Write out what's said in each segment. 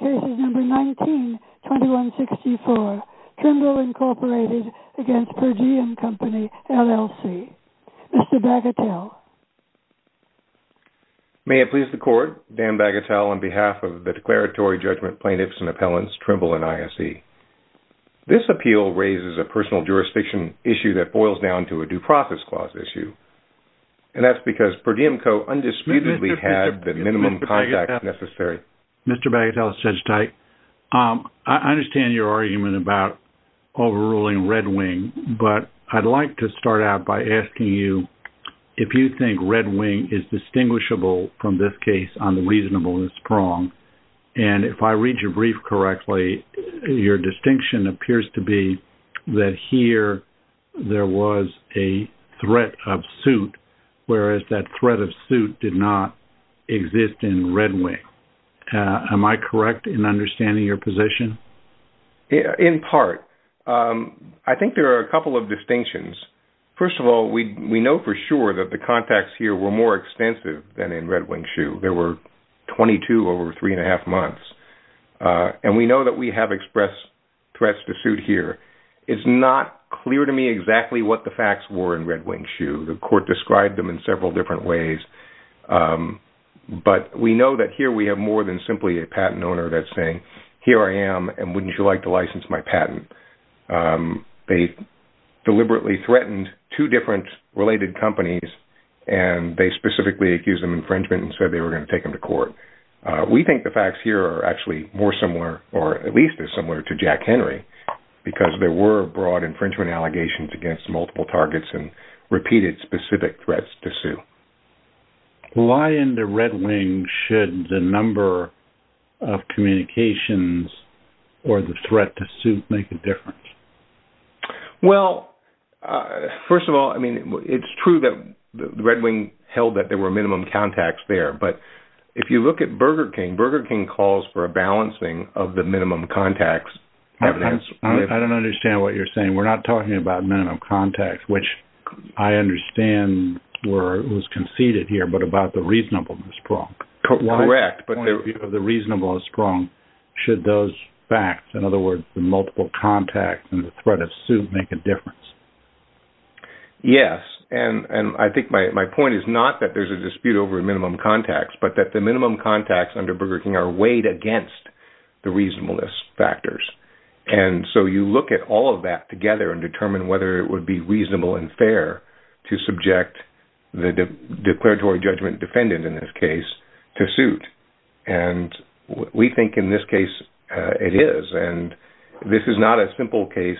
192164 Trimble Inc. v. PerDiemCo LLC Mr. Bagatelle May it please the Court, Dan Bagatelle on behalf of the Declaratory Judgment Plaintiffs and Appellants, Trimble and ISE. This appeal raises a personal jurisdiction issue that boils down to a due process clause issue. And that's because PerDiemCo undisputedly had the minimum contact necessary Mr. Bagatelle, I understand your argument about overruling Red Wing, but I'd like to start out by asking you if you think Red Wing is distinguishable from this case on the reasonableness prong. And if I read your brief correctly, your distinction appears to be that here there was a threat of suit, whereas that threat of suit did not exist in Red Wing. Am I correct in understanding your position? In part. I think there are a couple of distinctions. First of all, we know for sure that the contacts here were more extensive than in Red Wing Shoe. There were 22 over three and a half months. And we know that we have expressed threats to suit here. It's not clear to me exactly what the facts were in Red Wing Shoe. The court described them in several different ways. But we know that here we have more than simply a patent owner that's saying, here I am, and wouldn't you like to license my patent? They deliberately threatened two different related companies, and they specifically accused them of infringement and said they were going to take them to court. We think the facts here are actually more similar, or at least as similar to Jack Henry, because there were broad infringement allegations against multiple targets and repeated specific threats to sue. Why in the Red Wing should the number of communications or the threat to suit make a difference? Well, first of all, I mean, it's true that the Red Wing held that there were minimum contacts there. But if you look at Burger King, Burger King calls for a balancing of the minimum contacts. I don't understand what you're saying. We're not talking about minimum contacts, which I understand was conceded here, but about the reasonableness prong. Correct. But the reasonableness prong, should those facts, in other words, the multiple contacts and the threat of suit make a difference? Yes. And I think my point is not that there's a dispute over minimum contacts, but that the minimum contacts under Burger King are weighed against the reasonableness factors. And so you look at all of that together and determine whether it would be reasonable and fair to subject the declaratory judgment defendant, in this case, to suit. And we think in this case it is. And this is not a simple case,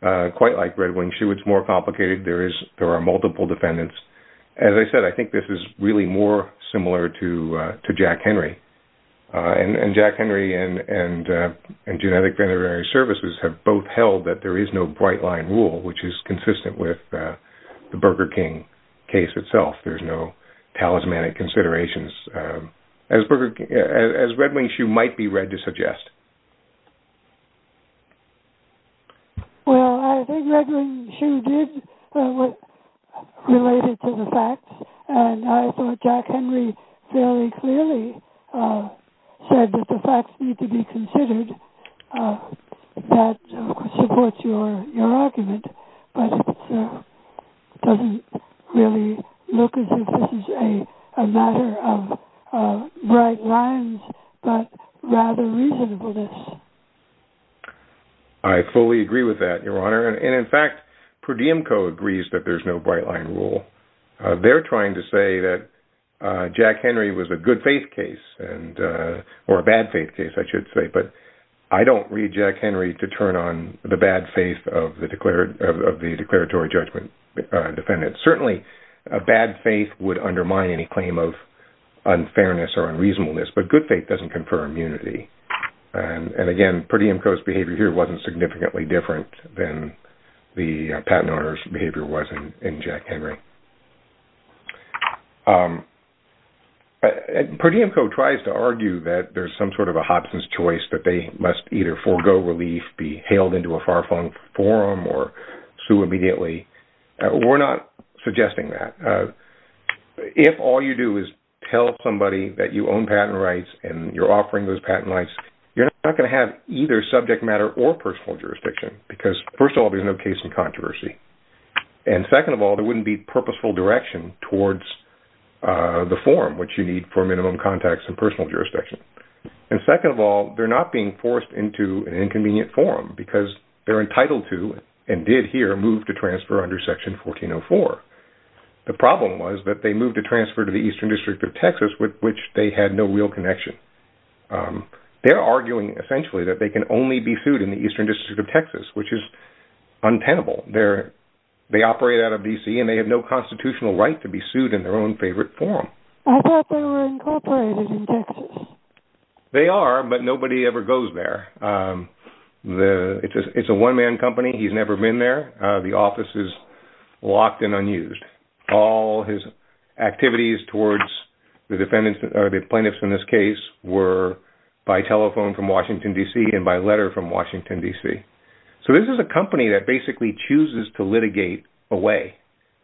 quite like Red Wing. It's more complicated. There are multiple defendants. As I said, I think this is really more similar to Jack Henry. And Jack Henry and Genetic Veterinary Services have both held that there is no bright-line rule, which is consistent with the Burger King case itself. There's no talismanic considerations, as Red Wing might be read to suggest. Well, I think Red Wing, too, did relate it to the facts. And I thought Jack Henry fairly clearly said that the facts need to be considered. That supports your argument. But it doesn't really look as if this is a matter of bright lines, but rather reasonableness. I fully agree with that, Your Honor. And, in fact, Per Diemco agrees that there's no bright-line rule. They're trying to say that Jack Henry was a good-faith case, or a bad-faith case, I should say. But I don't read Jack Henry to turn on the bad faith of the declaratory judgment defendant. Certainly, a bad faith would undermine any claim of unfairness or unreasonableness. But good faith doesn't confer immunity. And, again, Per Diemco's behavior here wasn't significantly different than the patent owner's behavior was in Jack Henry. Per Diemco tries to argue that there's some sort of a Hobson's choice, that they must either forgo relief, be hailed into a far-flung forum, or sue immediately. We're not suggesting that. If all you do is tell somebody that you own patent rights and you're offering those patent rights, you're not going to have either subject matter or personal jurisdiction because, first of all, there's no case in controversy. And, second of all, there wouldn't be purposeful direction towards the forum, which you need for minimum context and personal jurisdiction. And, second of all, they're not being forced into an inconvenient forum because they're entitled to, and did here, move to transfer under Section 1404. The problem was that they moved to transfer to the Eastern District of Texas, with which they had no real connection. They're arguing, essentially, that they can only be sued in the Eastern District of Texas, which is untenable. They operate out of D.C. and they have no constitutional right to be sued in their own favorite forum. They are, but nobody ever goes there. It's a one-man company. He's never been there. The office is locked and unused. All his activities towards the plaintiffs in this case were by telephone from Washington, D.C., and by letter from Washington, D.C. So, this is a company that basically chooses to litigate away.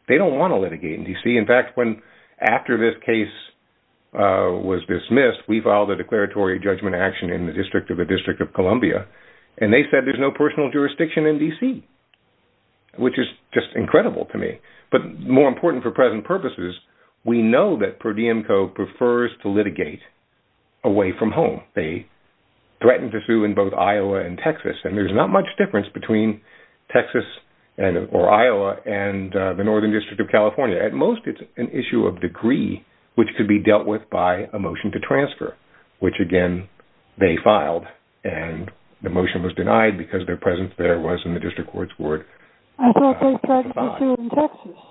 They don't want to litigate in D.C. In fact, after this case was dismissed, we filed a declaratory judgment action in the District of the District of Columbia, and they said there's no personal jurisdiction in D.C., which is just incredible to me. But more important for present purposes, we know that Per Diemco prefers to litigate away from home. They threatened to sue in both Iowa and Texas, and there's not much difference between Iowa and the Northern District of California. At most, it's an issue of degree, which could be dealt with by a motion to transfer, which, again, they filed, and the motion was denied because their presence there was in the district court's board. I thought they threatened to sue in Texas.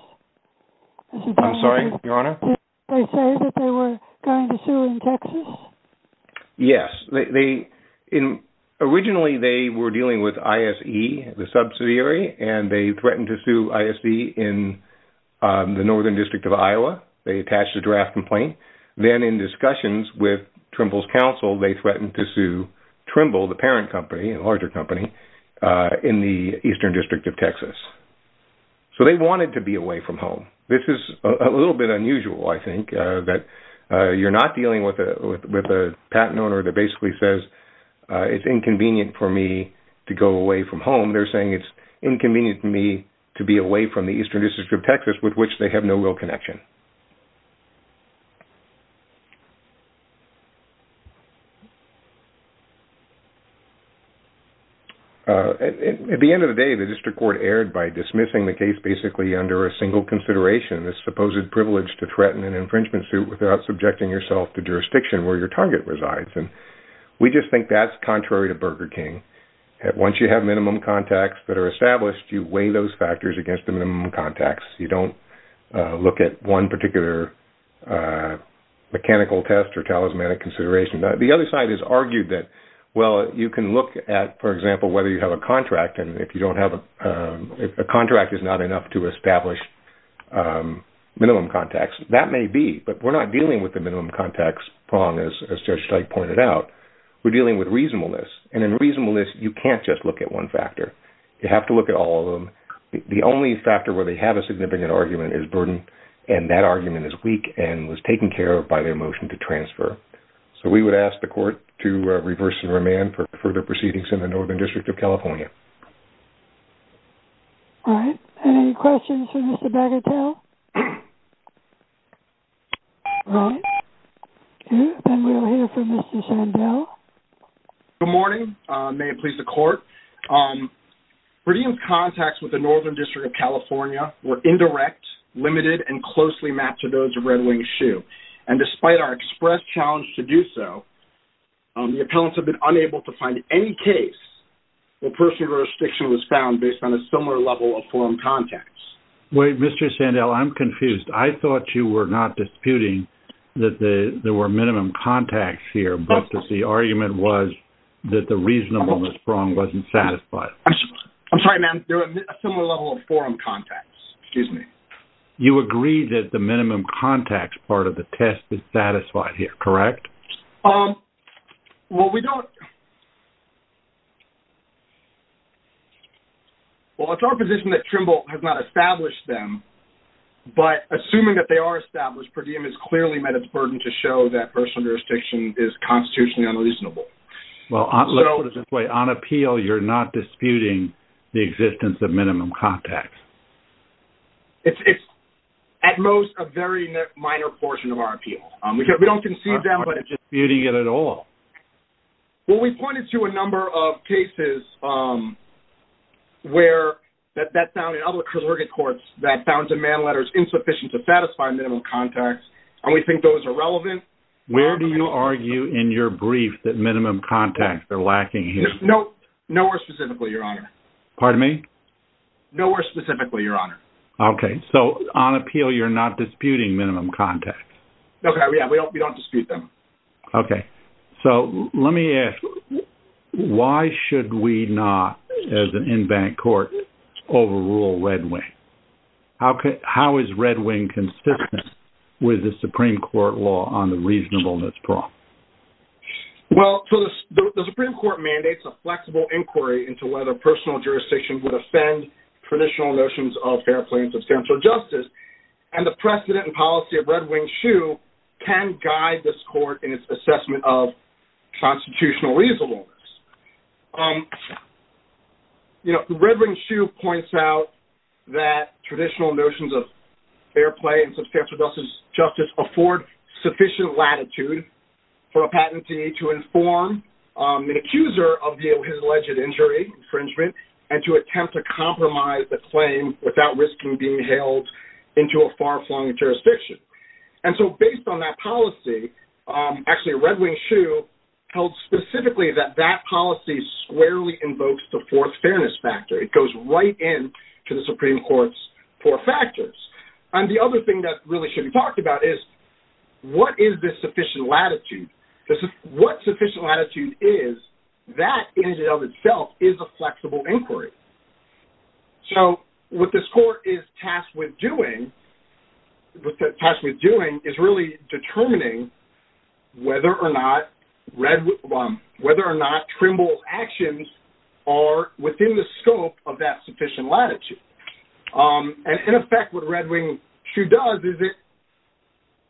I'm sorry, Your Honor? They said that they were going to sue in Texas? Yes. Originally, they were dealing with ISE, the subsidiary, and they threatened to sue ISE in the Northern District of Iowa. They attached a draft complaint. Then in discussions with Trimble's counsel, they threatened to sue Trimble, the parent company, a larger company, in the Eastern District of Texas. So they wanted to be away from home. This is a little bit unusual, I think, that you're not dealing with a patent owner that basically says it's inconvenient for me to go away from home. They're saying it's inconvenient for me to be away from the Eastern District of Texas, with which they have no real connection. At the end of the day, the district court erred by dismissing the case basically under a single consideration, the supposed privilege to threaten an infringement suit without subjecting yourself to jurisdiction where your target resides. We just think that's contrary to Burger King. Once you have minimum contacts that are established, you weigh those factors against the minimum contacts. You don't look at one particular mechanical test or talismanic consideration. The other side has argued that, well, you can look at, for example, whether you have a contract, and if a contract is not enough to establish minimum contacts, that may be, but we're not dealing with the minimum contacts prong, as Judge Teich pointed out. We're dealing with reasonableness, and in reasonableness, you can't just look at one factor. You have to look at all of them. The only factor where they have a significant argument is burden, and that argument is weak and was taken care of by their motion to transfer. So we would ask the court to reverse the remand for further proceedings in the Northern District of California. All right. Any questions for Mr. Bagatelle? All right. Okay, then we'll hear from Mr. Sandell. Good morning. May it please the court. Brady and contacts with the Northern District of California were indirect, limited, and closely mapped to those of Red Wing Shoe, and despite our express challenge to do so, the appellants have been unable to find any case where personal jurisdiction was found based on a similar level of foreign contacts. Wait, Mr. Sandell, I'm confused. I thought you were not disputing that there were minimum contacts here, but that the argument was that the reasonableness prong wasn't satisfied. I'm sorry, ma'am. They're a similar level of foreign contacts. Excuse me. You agree that the minimum contacts part of the test is satisfied here, correct? Well, we don't – well, it's our position that Trimble has not established them, but assuming that they are established, per diem has clearly met its burden to show that personal jurisdiction is constitutionally unreasonable. Well, on appeal, you're not disputing the existence of minimum contacts. It's at most a very minor portion of our appeal. We don't concede that. You're not disputing it at all. Well, we pointed to a number of cases where that found in other congregate courts that found demand letters insufficient to satisfy minimum contacts, and we think those are relevant. Where do you argue in your brief that minimum contacts are lacking here? Nowhere specifically, Your Honor. Pardon me? Nowhere specifically, Your Honor. Okay. So on appeal, you're not disputing minimum contacts. Okay, yeah, we don't dispute them. Okay. So let me ask, why should we not, as an in-bank court, overrule Red Wing? How is Red Wing consistent with the Supreme Court law on the reasonableness problem? Well, the Supreme Court mandates a flexible inquiry into whether personal jurisdiction would offend traditional notions of fair play and substantial justice, and the precedent and policy of Red Wing's shoe can guide this court in its assessment of constitutional reasonableness. You know, Red Wing's shoe points out that traditional notions of fair play and substantial justice afford sufficient latitude for a patentee to inform an accuser of his alleged injury, infringement, and to attempt to compromise the claim without risking being held into a far-flung jurisdiction. And so based on that policy, actually Red Wing's shoe tells specifically that that policy squarely invokes the fourth fairness factor. It goes right in to the Supreme Court's four factors. And the other thing that really should be talked about is what is this sufficient latitude? What sufficient latitude is, that in and of itself is a flexible inquiry. So what this court is tasked with doing is really determining whether or not Trimble's actions are within the scope of that sufficient latitude. And in effect what Red Wing's shoe does is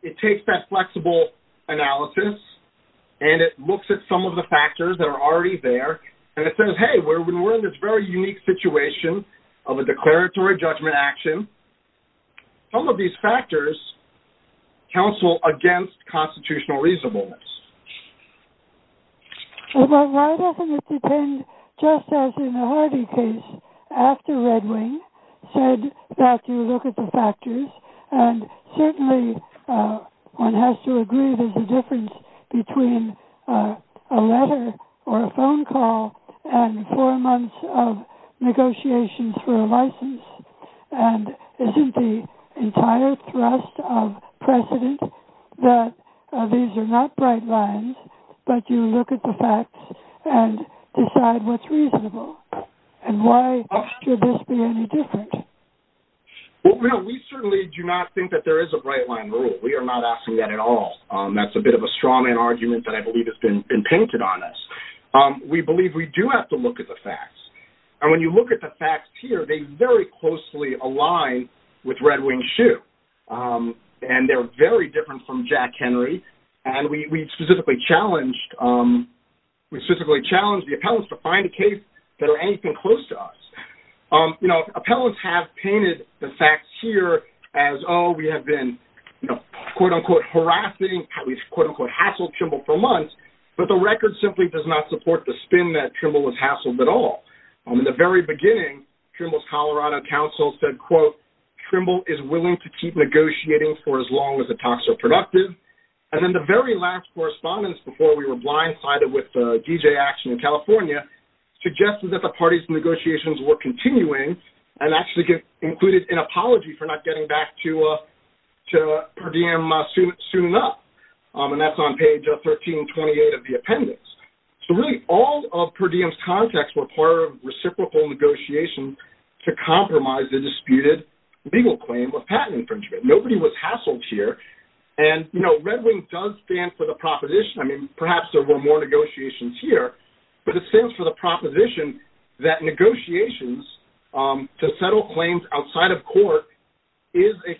it takes that flexible analysis and it looks at some of the factors that are already there and it says, hey, we're in this very unique situation of a declaratory judgment action. Some of these factors counsel against constitutional reasonableness. But why doesn't it depend just as in the Hardy case after Red Wing said that you look at the factors and certainly one has to agree there's a difference between a letter or a phone call and four months of negotiations for a license. And isn't the entire thrust of precedent that these are not bright lines but you look at the facts and decide what's reasonable? And why should this be any different? Well, we certainly do not think that there is a bright line rule. We are not asking that at all. That's a bit of a straw man argument that I believe has been painted on us. We believe we do have to look at the facts. And when you look at the facts here, they very closely align with Red Wing's shoe. And they're very different from Jack Henry. And we specifically challenged the appellants to find a case that are anything close to us. You know, appellants have painted the facts here as, oh, we have been, quote, unquote, harassing, at least, quote, unquote, hassled Trimble for months, but the record simply does not support the spin that Trimble was hassled at all. In the very beginning, Trimble's Colorado counsel said, quote, Trimble is willing to keep negotiating for as long as the talks are productive. And then the very last correspondence before we were blindsided with DJ action in California suggested that the parties' negotiations were continuing and actually included an apology for not getting back to Per Diem soon enough. And that's on page 1328 of the appendix. So, really, all of Per Diem's contacts were part of reciprocal negotiations to compromise the disputed legal claim of patent infringement. Nobody was hassled here. And, you know, Red Wing does stand for the proposition, I mean, perhaps there were more negotiations here, but it stands for the proposition that negotiations to settle claims outside of court is a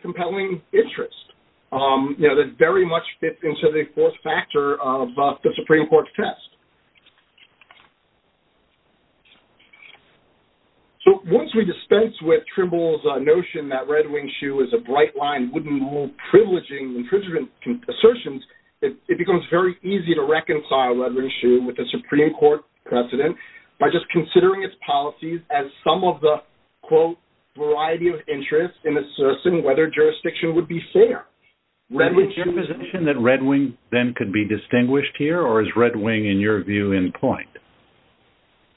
So, once we dispense with Trimble's notion that Red Wing's shoe is a bright line, wouldn't rule privileging infringement assertions, it becomes very easy to reconcile Red Wing's shoe with the Supreme Court precedent by just considering its policies as some of the, quote, variety of interests in assessing whether jurisdiction would be fair. Is it your position that Red Wing then could be distinguished here? Or is Red Wing, in your view, in point?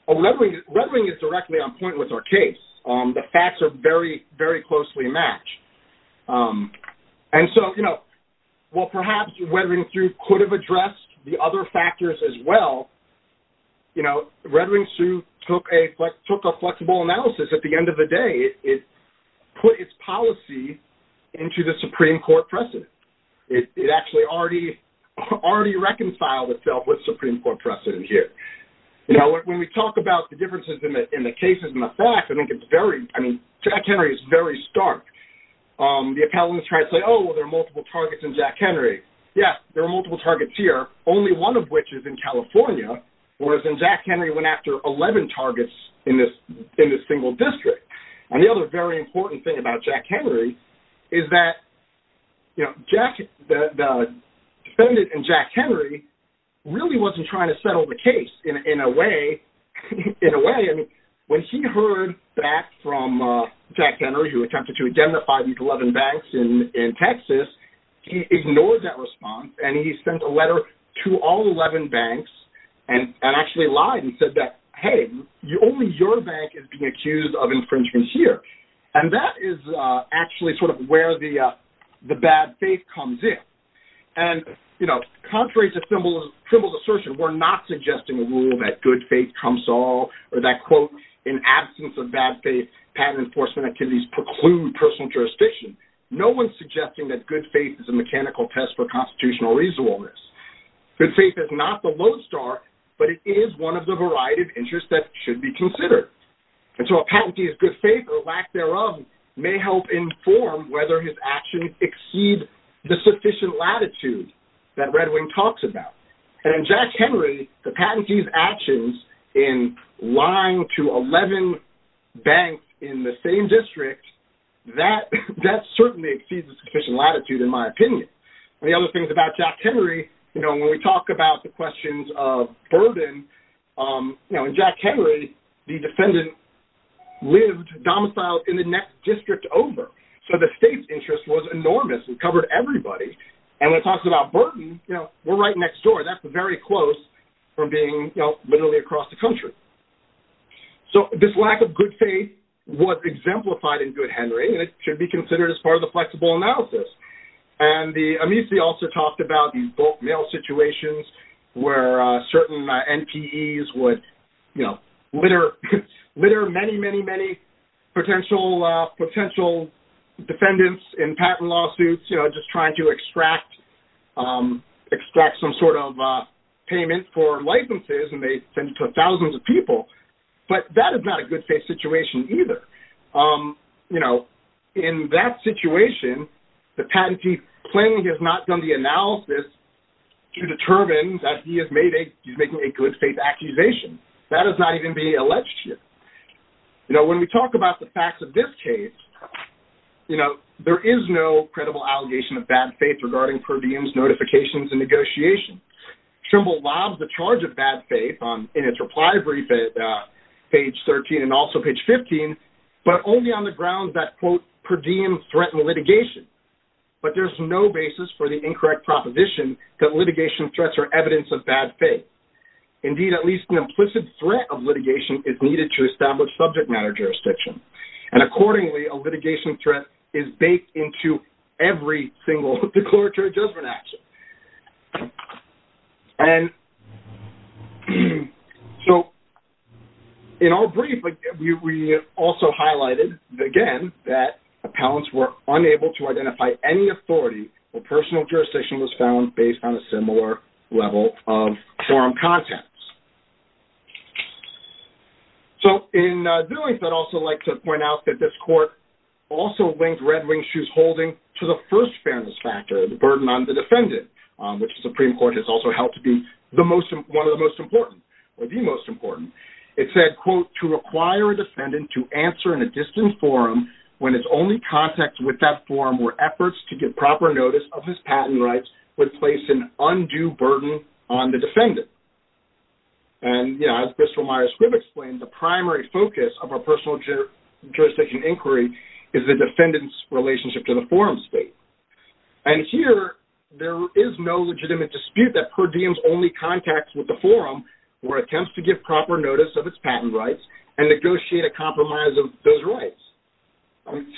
Red Wing is directly on point with our case. The facts are very, very closely matched. And so, you know, while perhaps Red Wing shoe could have addressed the other factors as well, you know, Red Wing shoe took a flexible analysis at the end of the day. It put its policy into the Supreme Court precedent. It actually already reconciled itself with Supreme Court precedent here. You know, when we talk about the differences in the cases and the facts, I think it's very, I mean, Jack Henry is very stark. The appellants try to say, oh, there are multiple targets in Jack Henry. Yes, there are multiple targets here, only one of which is in California, whereas in Jack Henry, Jack Henry went after 11 targets in this single district. And the other very important thing about Jack Henry is that, you know, Jack, the defendant in Jack Henry really wasn't trying to settle the case in a way, in a way, I mean, when he heard back from Jack Henry who attempted to identify these 11 banks in Texas, he ignored that response and he sent a letter to all 11 banks and actually lied and said that, hey, only your bank is being accused of infringement here. And that is actually sort of where the bad faith comes in. And, you know, contrary to Trimble's assertion, we're not suggesting a rule that good faith comes all or that, quote, in absence of bad faith, patent enforcement activities preclude personal jurisdiction. No one's suggesting that good faith is a mechanical test for constitutional reasonableness. Good faith is not the lodestar, but it is one of the variety of interests that should be considered. And so a patentee's good faith or lack thereof may help inform whether his actions exceed the sufficient latitude that Red Wing talks about. And in Jack Henry, the patentee's actions in lying to 11 banks in the same district, that certainly exceeds the sufficient latitude, in my opinion. And the other thing about Jack Henry, you know, when we talk about the questions of burden, you know, in Jack Henry, the defendant lived domiciled in the next district over. So the state's interest was enormous and covered everybody. And when it talks about burden, you know, we're right next door. That's very close from being, you know, literally across the country. So this lack of good faith was exemplified in Good Henry, and it should be considered as part of the flexible analysis. And the amici also talked about these bulk mail situations where certain NPEs would, you know, litter many, many, many potential defendants in patent lawsuits, you know, just trying to extract some sort of payment for licenses, and they send it to thousands of people. But that is not a good faith situation either. You know, in that situation, the patentee plainly has not done the analysis to determine that he is making a good faith accusation. That is not even being alleged here. You know, when we talk about the facts of this case, you know, there is no credible allegation of bad faith regarding per diems, notifications, and negotiations. Trimble lobs the charge of bad faith in its reply brief at page 13 and also page 15, but only on the grounds that, quote, per diem threatened litigation. But there's no basis for the incorrect proposition that litigation threats are evidence of bad faith. Indeed, at least an implicit threat of litigation is needed to establish subject matter jurisdiction. And accordingly, a litigation threat is baked into every single declaratory judgment action. And so, in our brief, we also highlighted, again, that appellants were unable to identify any authority where personal jurisdiction was found based on a similar level of forum contents. So, in doing so, I'd also like to point out that this court also linked red-winged holding to the first fairness factor, the burden on the defendant, which the Supreme Court has also held to be one of the most important or the most important. It said, quote, to require a defendant to answer in a distant forum when its only context with that forum were efforts to get proper notice of his patent rights would place an undue burden on the defendant. And, you know, as Bristol Myers-Squibb explained, the primary focus of a personal jurisdiction inquiry is the defendant's relationship to the forum state. And here, there is no legitimate dispute that per diem's only context with the forum were attempts to give proper notice of its patent rights and negotiate a compromise of those rights.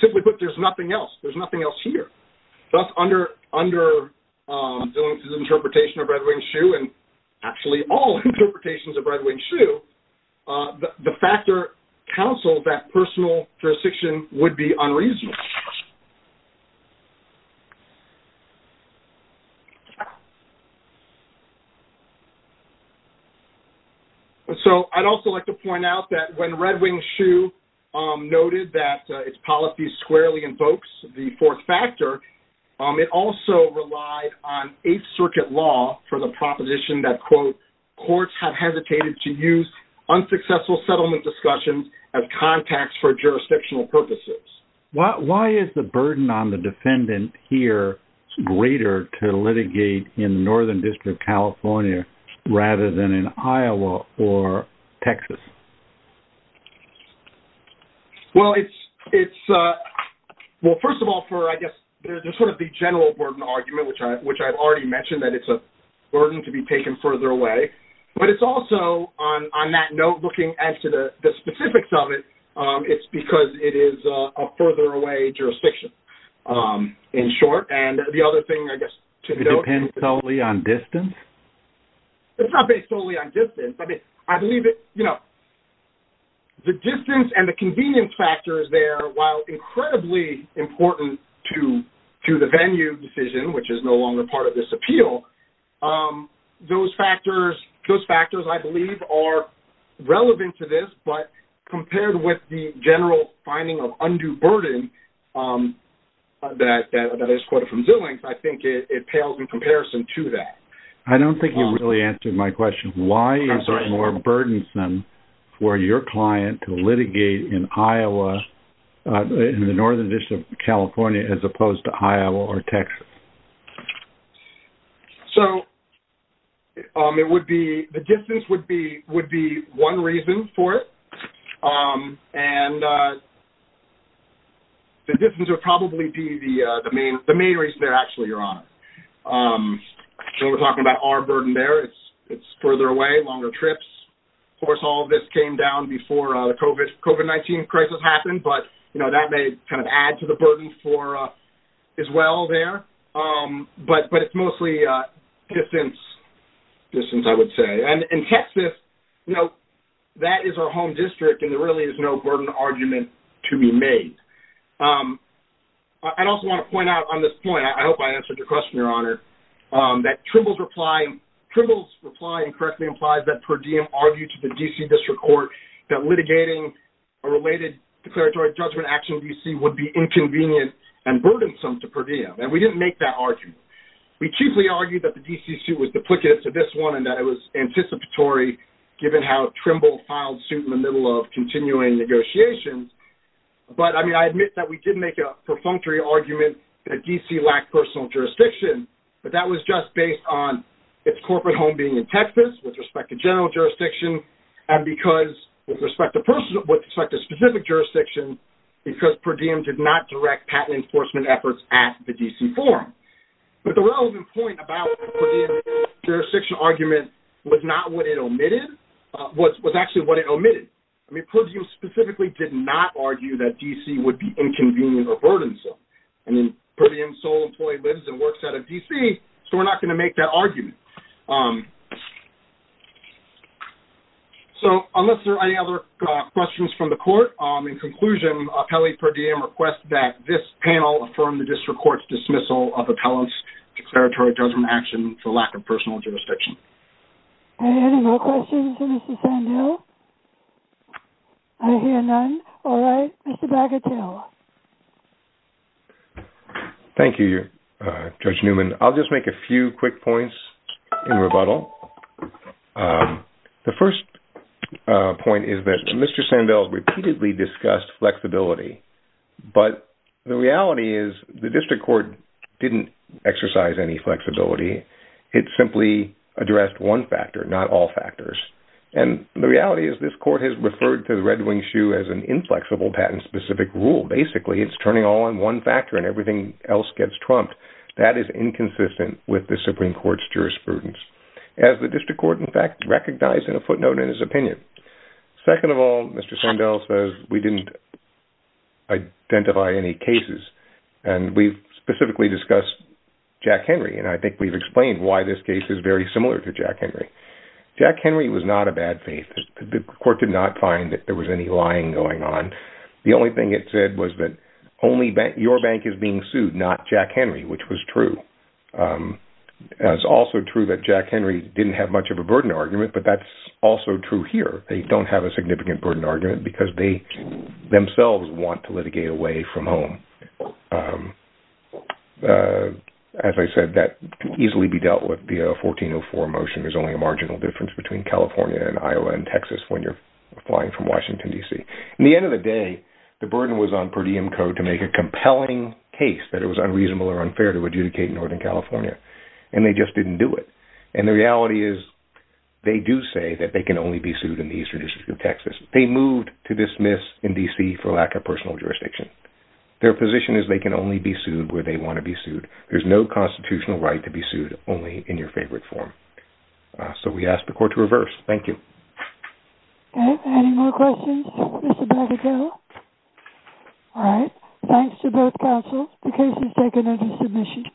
Simply put, there's nothing else. There's nothing else here. Thus, under Dillon's interpretation of red-winged shoe and actually all interpretations of red-winged shoe, the factor counseled that personal jurisdiction would be unreasonable. So, I'd also like to point out that when red-winged shoe noted that its policy squarely invokes the fourth factor, it also relied on Eighth Circuit law for the proposition that, quote, courts have hesitated to use unsuccessful settlement discussions as contacts for jurisdictional purposes. Why is the burden on the defendant here greater to litigate in Northern District, California rather than in Iowa or Texas? Well, it's... Well, first of all, for, I guess, there's sort of the general burden argument, which I've already mentioned that it's a burden to be taken further away. But it's also, on that note, looking as to the specifics of it, it's because it is a further away jurisdiction, in short. And the other thing, I guess, to note... It depends solely on distance? It's not based solely on distance. I mean, I believe it, you know, the distance and the convenience factors there, while incredibly important to the venue decision, which is no longer part of this appeal, those factors, I believe, are relevant to this. But compared with the general finding of undue burden that is quoted from Zillings, I think it pales in comparison to that. I don't think you really answered my question. I'm sorry. Why is it more burdensome for your client to litigate in Iowa, in the Northern District of California, as opposed to Iowa or Texas? So, it would be... The distance would be one reason for it. And the distance would probably be the main reason there, actually, Your Honor. When we're talking about our burden there, it's further away, longer trips. Of course, all of this came down before the COVID-19 crisis happened, but, you know, that may kind of add to the burden for us as well there. But it's mostly distance, I would say. And Texas, you know, that is our home district, and there really is no burden argument to be made. I'd also want to point out on this point, I hope I answered your question, Your Honor, that Trimble's reply incorrectly implies that Per Diem argued to the D.C. District Court that litigating a related declaratory judgment action in D.C. would be inconvenient and burdensome to Per Diem. And we didn't make that argument. We chiefly argued that the D.C. suit was duplicative to this one and that it was anticipatory given how Trimble filed suit in the middle of continuing negotiations. But, I mean, I admit that we did make a perfunctory argument that D.C. lacked personal jurisdiction, but that was just based on its corporate home being in Texas with respect to general jurisdiction and because with respect to specific jurisdictions, because Per Diem did not direct patent enforcement efforts at the D.C. forum. But the relevant point about Per Diem's jurisdiction argument was not what it omitted, was actually what it omitted. I mean, Per Diem specifically did not argue that D.C. would be inconvenient or burdensome. I mean, Per Diem's sole employee lives and works out of D.C., so we're not going to make that argument. So, unless there are any other questions from the Court, in conclusion, appellee Per Diem requests that this panel affirm the District Court's dismissal of appellant's declaratory judgment action for lack of personal jurisdiction. Are there any more questions for Mr. Sandell? I hear none. All right. Mr. Bagatelle. Thank you, Judge Newman. I'll just make a few quick points in rebuttal. The first point is that Mr. Sandell repeatedly discussed flexibility, but the reality is the District Court didn't exercise any flexibility. It simply addressed one factor, not all factors. And the reality is this Court has referred to the Red Wing Shoe as an inflexible patent-specific rule. Basically, it's turning all on one factor and everything else gets trumped. That is inconsistent with the Supreme Court's jurisprudence, as the District Court, in fact, recognized in a footnote in his opinion. Second of all, Mr. Sandell says we didn't identify any cases, and we've specifically discussed Jack Henry, and I think we've explained why this case is very similar to Jack Henry. Jack Henry was not a bad faith. The Court did not find that there was any lying going on. The only thing it said was that only your bank is being sued, not Jack Henry, which was true. It's also true that Jack Henry didn't have much of a burden argument, but that's also true here. They don't have a significant burden argument because they themselves want to litigate away from home. As I said, that can easily be dealt with via a 1404 motion. There's only a marginal difference between California and Iowa and Texas when you're applying from Washington, D.C. At the end of the day, the burden was on per diem code to make a compelling case that it was unreasonable or unfair to adjudicate in Northern California, and they just didn't do it. The reality is they do say that they can only be sued in the Eastern District of Texas. They moved to dismiss in D.C. for lack of personal jurisdiction. Their position is they can only be sued where they want to be sued. There's no constitutional right to be sued, only in your favorite form. So we ask the Court to reverse. Thank you. Okay. Any more questions? This is about to go. All right. Thanks to both counsels. The case is taken under submission.